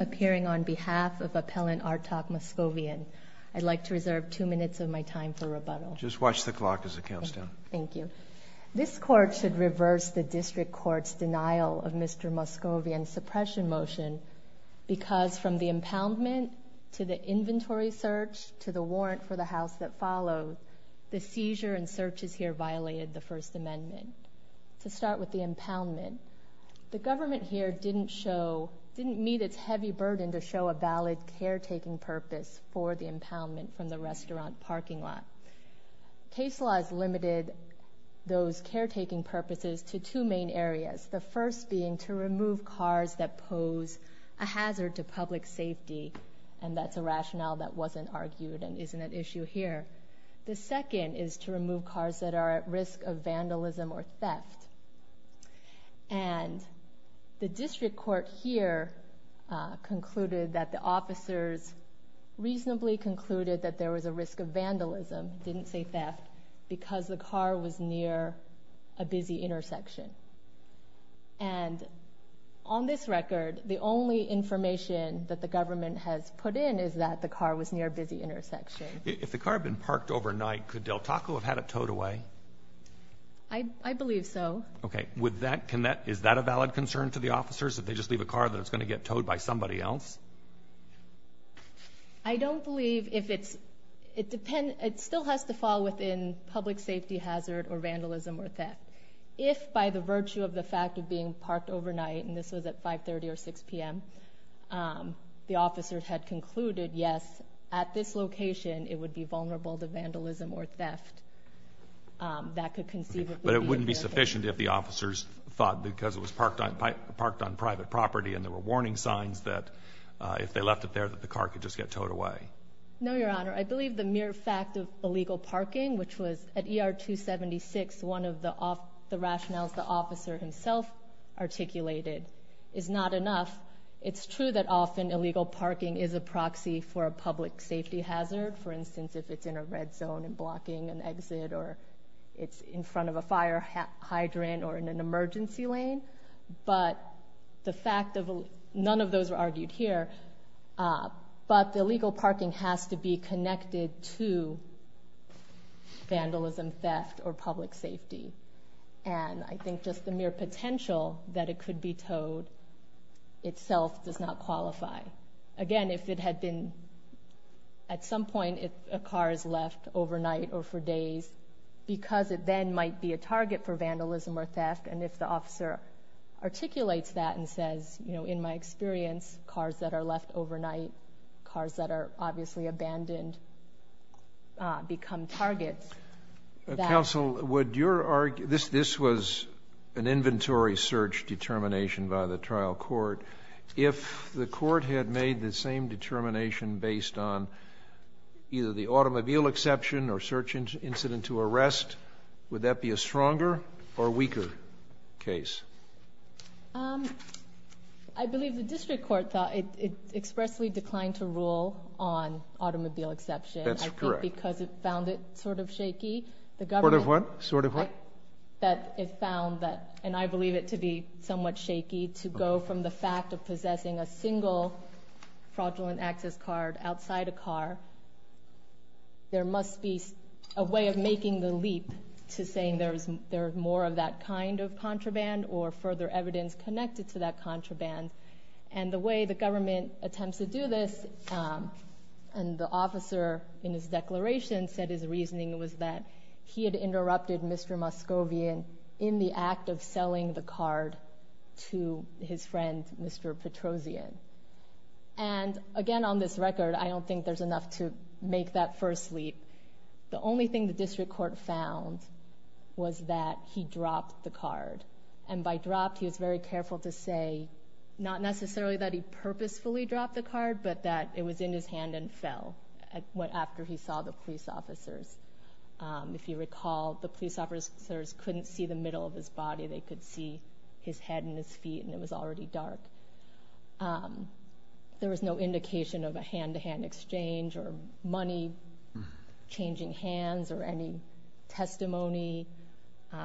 appearing on behalf of Appellant Artak Moskovyan. I'd like to reserve two minutes of my time for rebuttal. Just watch the clock as it counts down. Thank you. This Court should reverse the District Court's denial of Mr. Moskovyan's suppression motion because from the impoundment to the inventory search to the warrant for the house that followed, the seizure and searches here violated the First Amendment. To start with the impoundment, the government here didn't show, didn't meet its heavy burden to show a valid caretaking purpose for the impoundment from the restaurant parking lot. Case law has limited those caretaking purposes to two main areas. The first being to remove cars that pose a hazard to public safety and that's a rationale that wasn't argued and isn't an issue here. The second is to remove cars that are at risk of vandalism or theft. And the District Court here concluded that the officers reasonably concluded that there was a risk of vandalism, didn't say theft, because the car was near a busy intersection. And on this record, the only information that the government has put in is that the car was near a busy intersection. If the car had been parked overnight, could Del Taco have had it towed away? I believe so. Okay. Is that a valid concern to the officers, that they just leave a car that's going to get towed by somebody else? I don't believe if it's, it depends, it still has to fall within public safety hazard or vandalism or theft. If by the virtue of the fact of being parked overnight, and this was at 5.30 or 6 p.m., the officers had concluded, yes, at this location it would be vulnerable to vandalism or theft, that could conceivably be a benefit. But it wouldn't be sufficient if the officers thought because it was parked on private property and there were warning signs that if they left it there that the car could just get towed. At ER 276, one of the rationales the officer himself articulated is not enough. It's true that often illegal parking is a proxy for a public safety hazard. For instance, if it's in a red zone and blocking an exit or it's in front of a fire hydrant or in an emergency lane. But the fact of, none of those are argued here, but the illegal parking has to be connected to vandalism, theft, or public safety. And I think just the mere potential that it could be towed itself does not qualify. Again, if it had been, at some point a car is left overnight or for days, because it then might be a target for vandalism or theft, and if the officer articulates that and says, you know, in my experience, cars that are abandoned become targets, that... Counsel, would your, this was an inventory search determination by the trial court. If the court had made the same determination based on either the automobile exception or search incident to arrest, would that be a stronger or weaker case? Um, I believe the district court thought it expressly declined to rule on automobile exception. That's correct. Because it found it sort of shaky. The government... Sort of what? Sort of what? That it found that, and I believe it to be somewhat shaky, to go from the fact of possessing a single fraudulent access card outside a car, there must be a way of making the leap to saying there's more of that kind of contraband or further evidence connected to that contraband. And the way the government attempts to do this, and the officer in his declaration said his reasoning was that he had interrupted Mr. Moscovian in the act of selling the card to his friend, Mr. Petrosian. And again, on this record, I don't think there's enough to make that first leap. The only thing the district court found was that he dropped the card. And by dropped, he was very careful to say, not necessarily that he purposefully dropped the card, but that it was in his hand and fell after he saw the police officers. If you recall, the police officers couldn't see the middle of his body. They could see his head and his feet, and it was already dark. There was no indication of a hand-to-hand exchange or money changing hands or any testimony,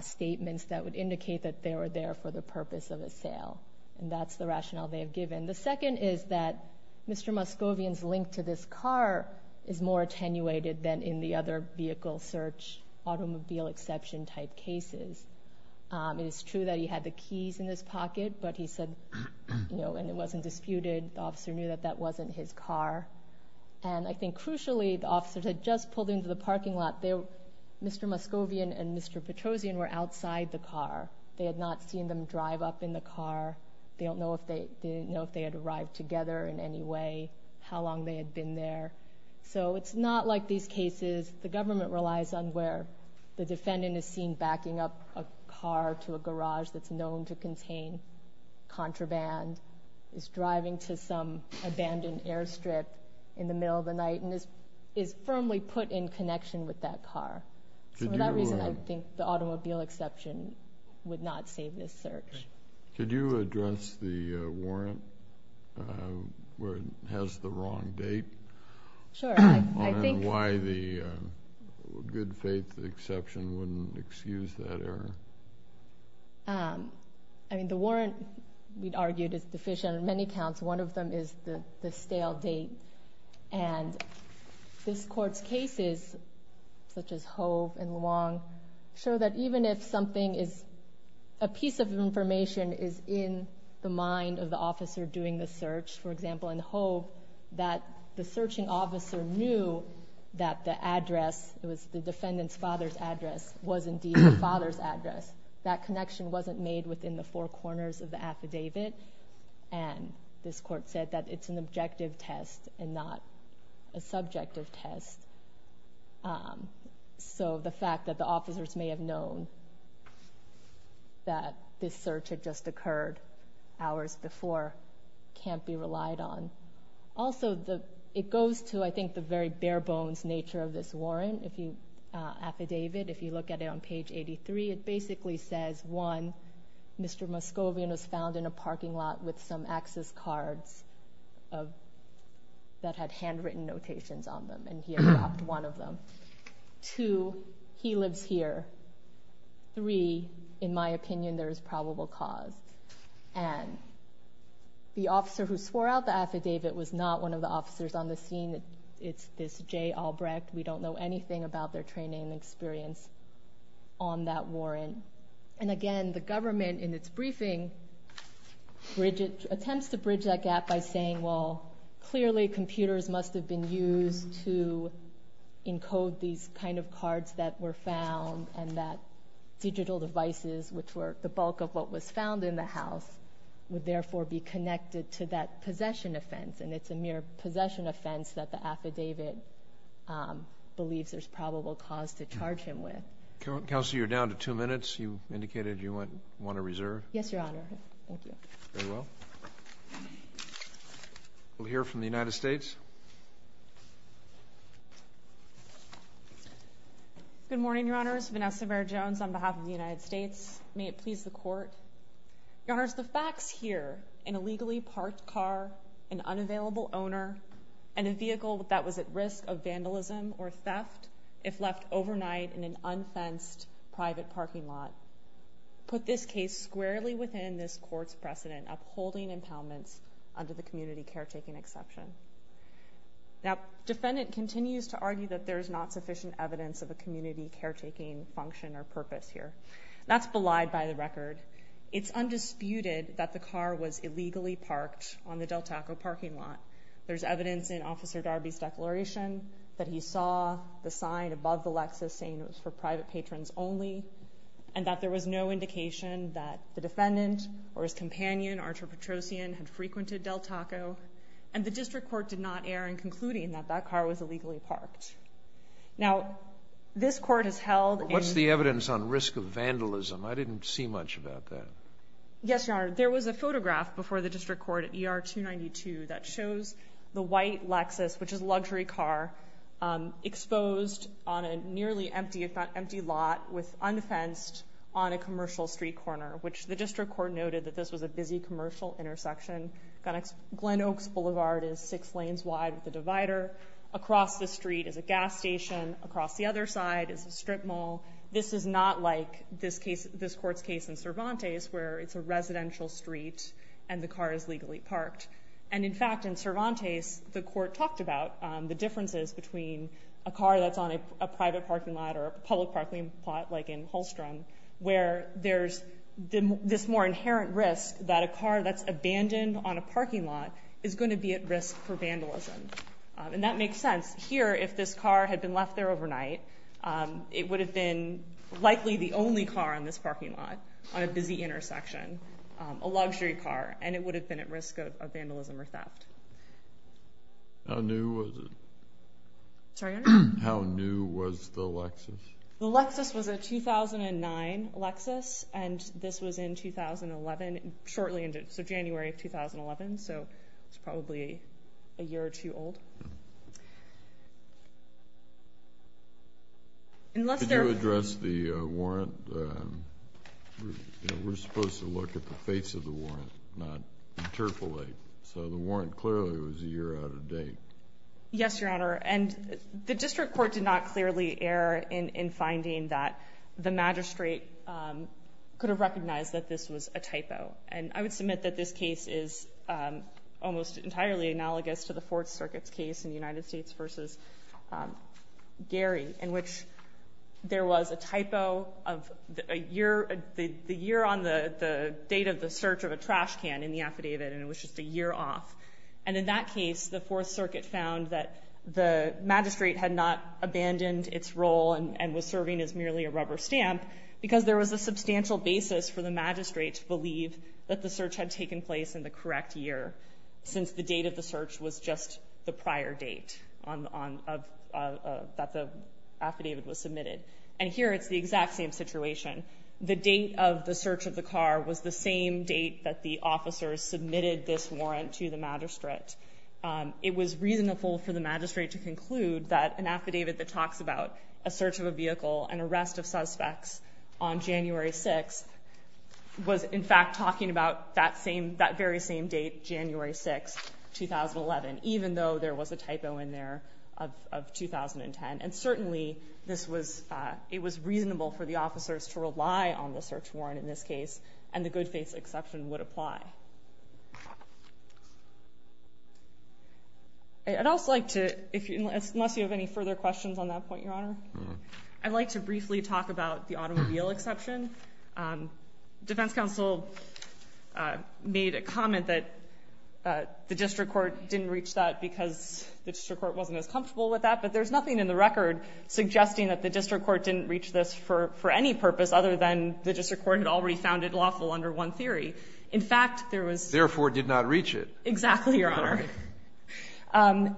statements that would indicate that they were there for the purpose of a sale. And that's the rationale they have given. The second is that Mr. Moscovian's link to this car is more attenuated than in the other vehicle search automobile exception type cases. It is true that he had the keys in his pocket, but he said, you know, and it wasn't disputed. The officer knew that that wasn't his car. And I think crucially, the officers had just pulled into the parking lot. Mr. Moscovian and Mr. Petrosian were outside the car. They had not seen them drive up in the car. They don't know if they had arrived together in any way, how long they had been there. So it's not like these cases, the government relies on where the defendant is seen backing up a car to a garage that's known to contain contraband, is driving to some abandoned airstrip in the middle of the night, and is firmly put in connection with that car. So for that reason, I think the automobile exception would not save this search. Could you address the warrant, where it has the wrong date, and why the good faith exception wouldn't excuse that error? I mean, the warrant, we'd argued, is deficient on many counts. One of them is the stale date. And this Court's cases, such as Hove and Luong, show that even if something is, a piece of information is in the mind of the officer doing the search, for example, in Hove, that the searching officer knew that the address, it was the defendant's father's address, was indeed the father's address. That connection wasn't made within the four corners of the affidavit. And this Court said that it's an objective test and not a subjective test. So the fact that the officers may have known that this search had just occurred hours before can't be relied on. Also, it goes to, I think, the very bare-bones nature of this warrant, affidavit. If you look at it on page 83, it basically says, one, Mr. Moscovian was found in a parking lot with some access cards that had handwritten notations on them, and he had dropped one of them. Two, he lives here. Three, in my opinion, there is probable cause. And the officer who swore out the affidavit was not one of the officers on the scene. It's this Jay Albrecht. We don't know anything about their training and experience on that warrant. And again, the government, in its briefing, attempts to bridge that gap by saying, well, clearly computers must have been used to encode these kind of cards that were found and that are connected to that possession offense. And it's a mere possession offense that the affidavit believes there's probable cause to charge him with. Counsel, you're down to two minutes. You indicated you want to reserve. Yes, Your Honor. Thank you. Very well. We'll hear from the United States. Good morning, Your Honors. Vanessa Bair-Jones on behalf of the United States. May it please the Court. Your Honors, the facts here, an illegally parked car, an unavailable owner, and a vehicle that was at risk of vandalism or theft if left overnight in an unfenced private parking lot, put this case squarely within this Court's precedent upholding impoundments under the community caretaking exception. Now, defendant continues to argue that there is not sufficient evidence of a community caretaking function or purpose here. That's relied by the record. It's undisputed that the car was illegally parked on the Del Taco parking lot. There's evidence in Officer Darby's declaration that he saw the sign above the Lexus saying it was for private patrons only and that there was no indication that the defendant or his companion, Archer Petrosian, had frequented Del Taco. And the district court did not err in concluding that that car was illegally parked. Now, this Court has held in What's the evidence on risk of vandalism? I didn't see much about that. Yes, Your Honor. There was a photograph before the district court at ER 292 that shows the white Lexus, which is a luxury car, exposed on a nearly empty, if not empty, lot with undefensed on a commercial street corner, which the district court noted that this was a busy commercial intersection. Glen Oaks Boulevard is six lanes wide with a divider. Across the street is a gas station. Across the other side is a strip mall. This is not like this case, this Court's case in Cervantes, where it's a residential street and the car is legally parked. And, in fact, in Cervantes, the Court talked about the differences between a car that's on a private parking lot or a public parking lot, like in Holstrom, where there's this more inherent risk that a car that's abandoned on a parking lot is going to be at risk for vandalism. And that makes sense. Here, if this car had been left there the only car on this parking lot, on a busy intersection, a luxury car, and it would have been at risk of vandalism or theft. How new was it? Sorry, Your Honor? How new was the Lexus? The Lexus was a 2009 Lexus, and this was in 2011, shortly into, so January of 2011, so it's probably a year or two old. Could you address the warrant? We're supposed to look at the face of the warrant, not interpolate. So the warrant clearly was a year out of date. Yes, Your Honor, and the District Court did not clearly err in finding that the magistrate could have recognized that this was a typo. And I would submit that this case is almost entirely analogous to the Fourth Circuit's case in the United States versus Gary, in which there was a typo of the year on the date of the search of a trash can in the affidavit and it was just a year off. And in that case, the Fourth Circuit found that the magistrate had not abandoned its role and was serving as merely a rubber stamp because there was a substantial basis for the magistrate to believe that the search had taken place in the correct year, since the date of the search was just the prior date that the affidavit was submitted. And here it's the exact same situation. The date of the search of the car was the same date that the officers submitted this warrant to the magistrate. It was reasonable for the magistrate to conclude that an affidavit that talks about a search of a vehicle and the arrest of suspects on January 6th was, in fact, talking about that same, that very same date, January 6th, 2011, even though there was a typo in there of 2010. And certainly this was, it was reasonable for the officers to rely on the search warrant in this case and the good faith exception would apply. I'd also like to, unless you have any further questions on that point, Your Honor, I'd like to briefly talk about the automobile exception. Defense counsel made a comment that the district court didn't reach that because the district court wasn't as comfortable with that, but there's nothing in the record suggesting that the district court didn't reach this for any purpose other than the district court had already found it lawful under one theory. In fact, there was. Therefore, did not reach it. Exactly, Your Honor.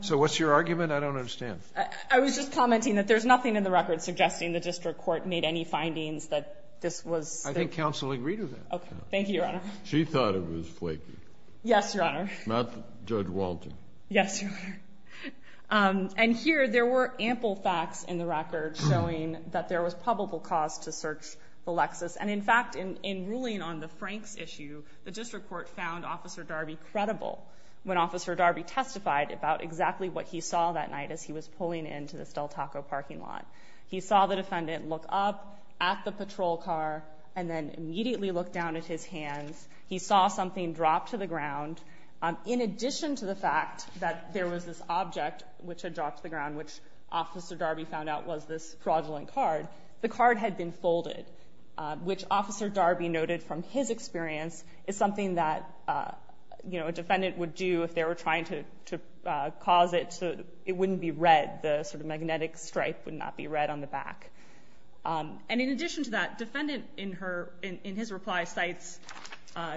So what's your argument? I don't understand. I was just commenting that there's nothing in the record suggesting the district court made any findings that this was. I think counsel agreed to that. Okay. Thank you, Your Honor. She thought it was flaky. Yes, Your Honor. Not Judge Walton. Yes, Your Honor. And here there were ample facts in the record showing that there was probable cause to search the Lexus. And in fact, in ruling on the Franks issue, the district court found Officer Darby credible when Officer Darby testified about exactly what he saw that night as he was pulling into this Del Taco parking lot. He saw the defendant look up at the patrol car and then immediately look down at his hands. He saw something drop to the ground. In addition to the fact that there was this object which had dropped to the ground, which Officer Darby found out was this fraudulent card, the card had been folded, which Officer Darby noted from his experience is something that, you know, a defendant would do if they were trying to cause it so it wouldn't be red, the sort of magnetic stripe would not be red on the back. And in addition to that, defendant in her, in his reply, cites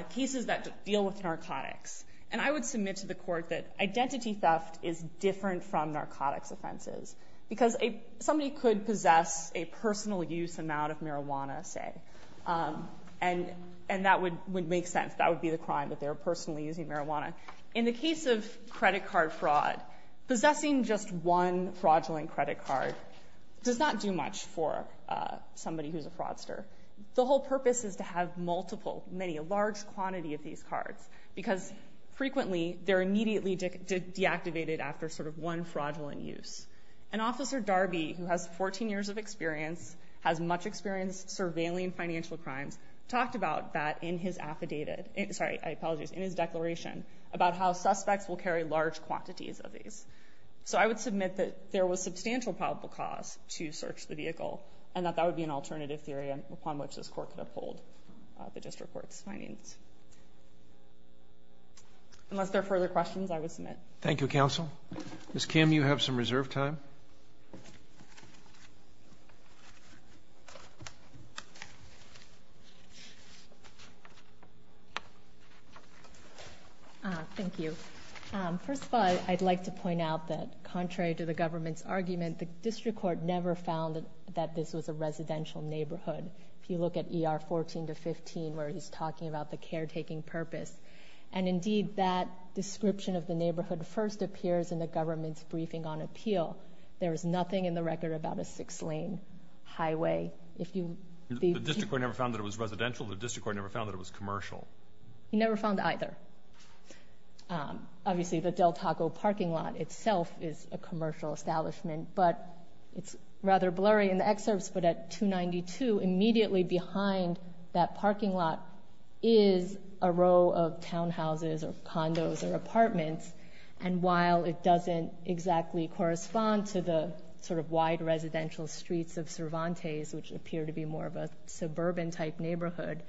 cases that deal with narcotics. And I would submit to the court that identity theft is different from narcotics offenses because somebody could possess a personal use amount of marijuana say. And that would make sense. That would be the crime that they were personally using marijuana. In the case of credit card fraud, possessing just one fraudulent credit card does not do much for somebody who's a fraudster. The whole purpose is to have multiple, many, a large quantity of these cards because frequently they're immediately deactivated after sort of one fraudulent use. And Officer Darby, who has 14 years of experience, has much experience surveilling financial crimes, talked about that in his affidavit, sorry, I apologize, in his declaration about how suspects will carry large quantities of these. So I would submit that there was substantial probable cause to search the vehicle and that that would be an alternative theory upon which this court could uphold the district court's findings. Unless there are further questions, I would submit. Thank you, counsel. Ms. Kim, you have some reserve time. Thank you. First of all, I'd like to point out that contrary to the government's argument, the district court never found that this was a residential neighborhood. If you look at ER 14 to 15 where he's talking about the caretaking purpose. And indeed that description of the neighborhood first appears in the government's briefing on appeal. There is nothing in the record about a six-lane highway. If you The district court never found that it was residential? The district court never found that it was commercial? He never found either. Obviously the Del Taco parking lot itself is a commercial establishment, but it's rather blurry in the excerpts, but at 292, immediately behind that parking lot is a row of townhouses or condos or apartments. And while it doesn't exactly correspond to the sort of wide residential streets of Cervantes, which appear to be more of a suburban type neighborhood,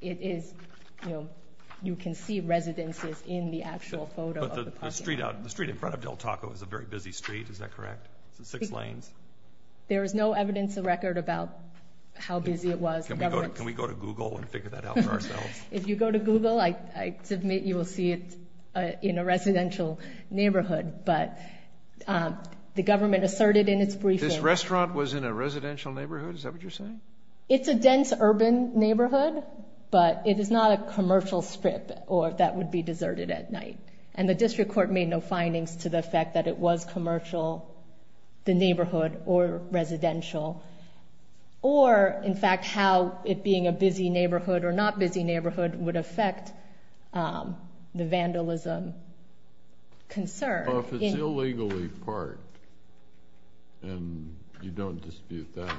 it is, you know, you can see residences in the actual photo of the parking lot. But the street in front of Del Taco is a very busy street, is that correct? Six lanes. There is no evidence in the record about how busy it was. Can we go to Google and figure that out for ourselves? If you go to Google, I submit you will see it in a residential neighborhood, but the government asserted in its briefing. This restaurant was in a residential neighborhood, is that what you're saying? It's a dense urban neighborhood, but it is not a commercial strip or that would be deserted at night. And the district court made no findings to the fact that it was commercial, the neighborhood, or residential. Or, in fact, how it being a busy neighborhood or not busy neighborhood would affect the vandalism concern. Well, if it's illegally parked and you don't dispute that,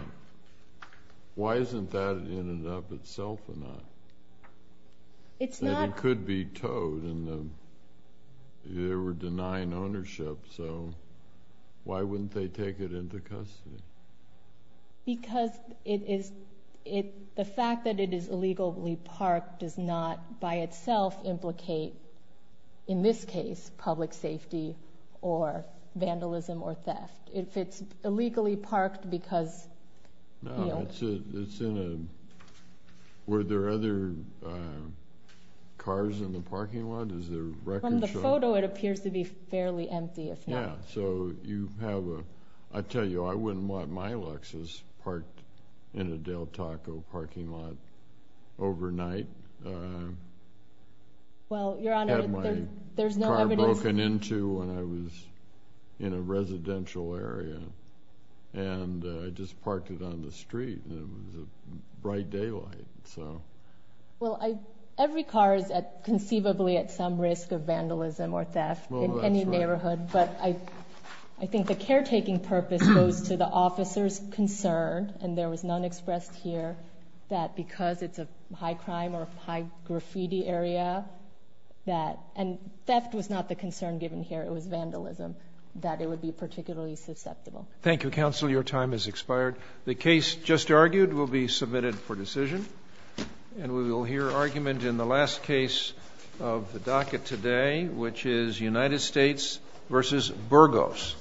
why isn't that in and of itself or not? It could be towed and they were denying ownership, so why wouldn't they take it into custody? Because it is, the fact that it is illegally parked does not by itself implicate, in this case, public safety or vandalism or theft. If it's illegally parked because... Were there other cars in the parking lot? From the photo, it appears to be fairly empty. I tell you, I wouldn't want my Lexus parked in a Del Taco parking lot overnight. I had my car broken into when I was in a residential area and I just parked it on the street and it was a bright daylight. Every car is conceivably at some risk of vandalism or theft in any neighborhood, but I think the caretaking purpose goes to the officer's safety. Thank you, Counsel. Your time has expired. The case just argued will be submitted for decision and we will hear argument in the last case of the docket today, which is United States v. Burgos.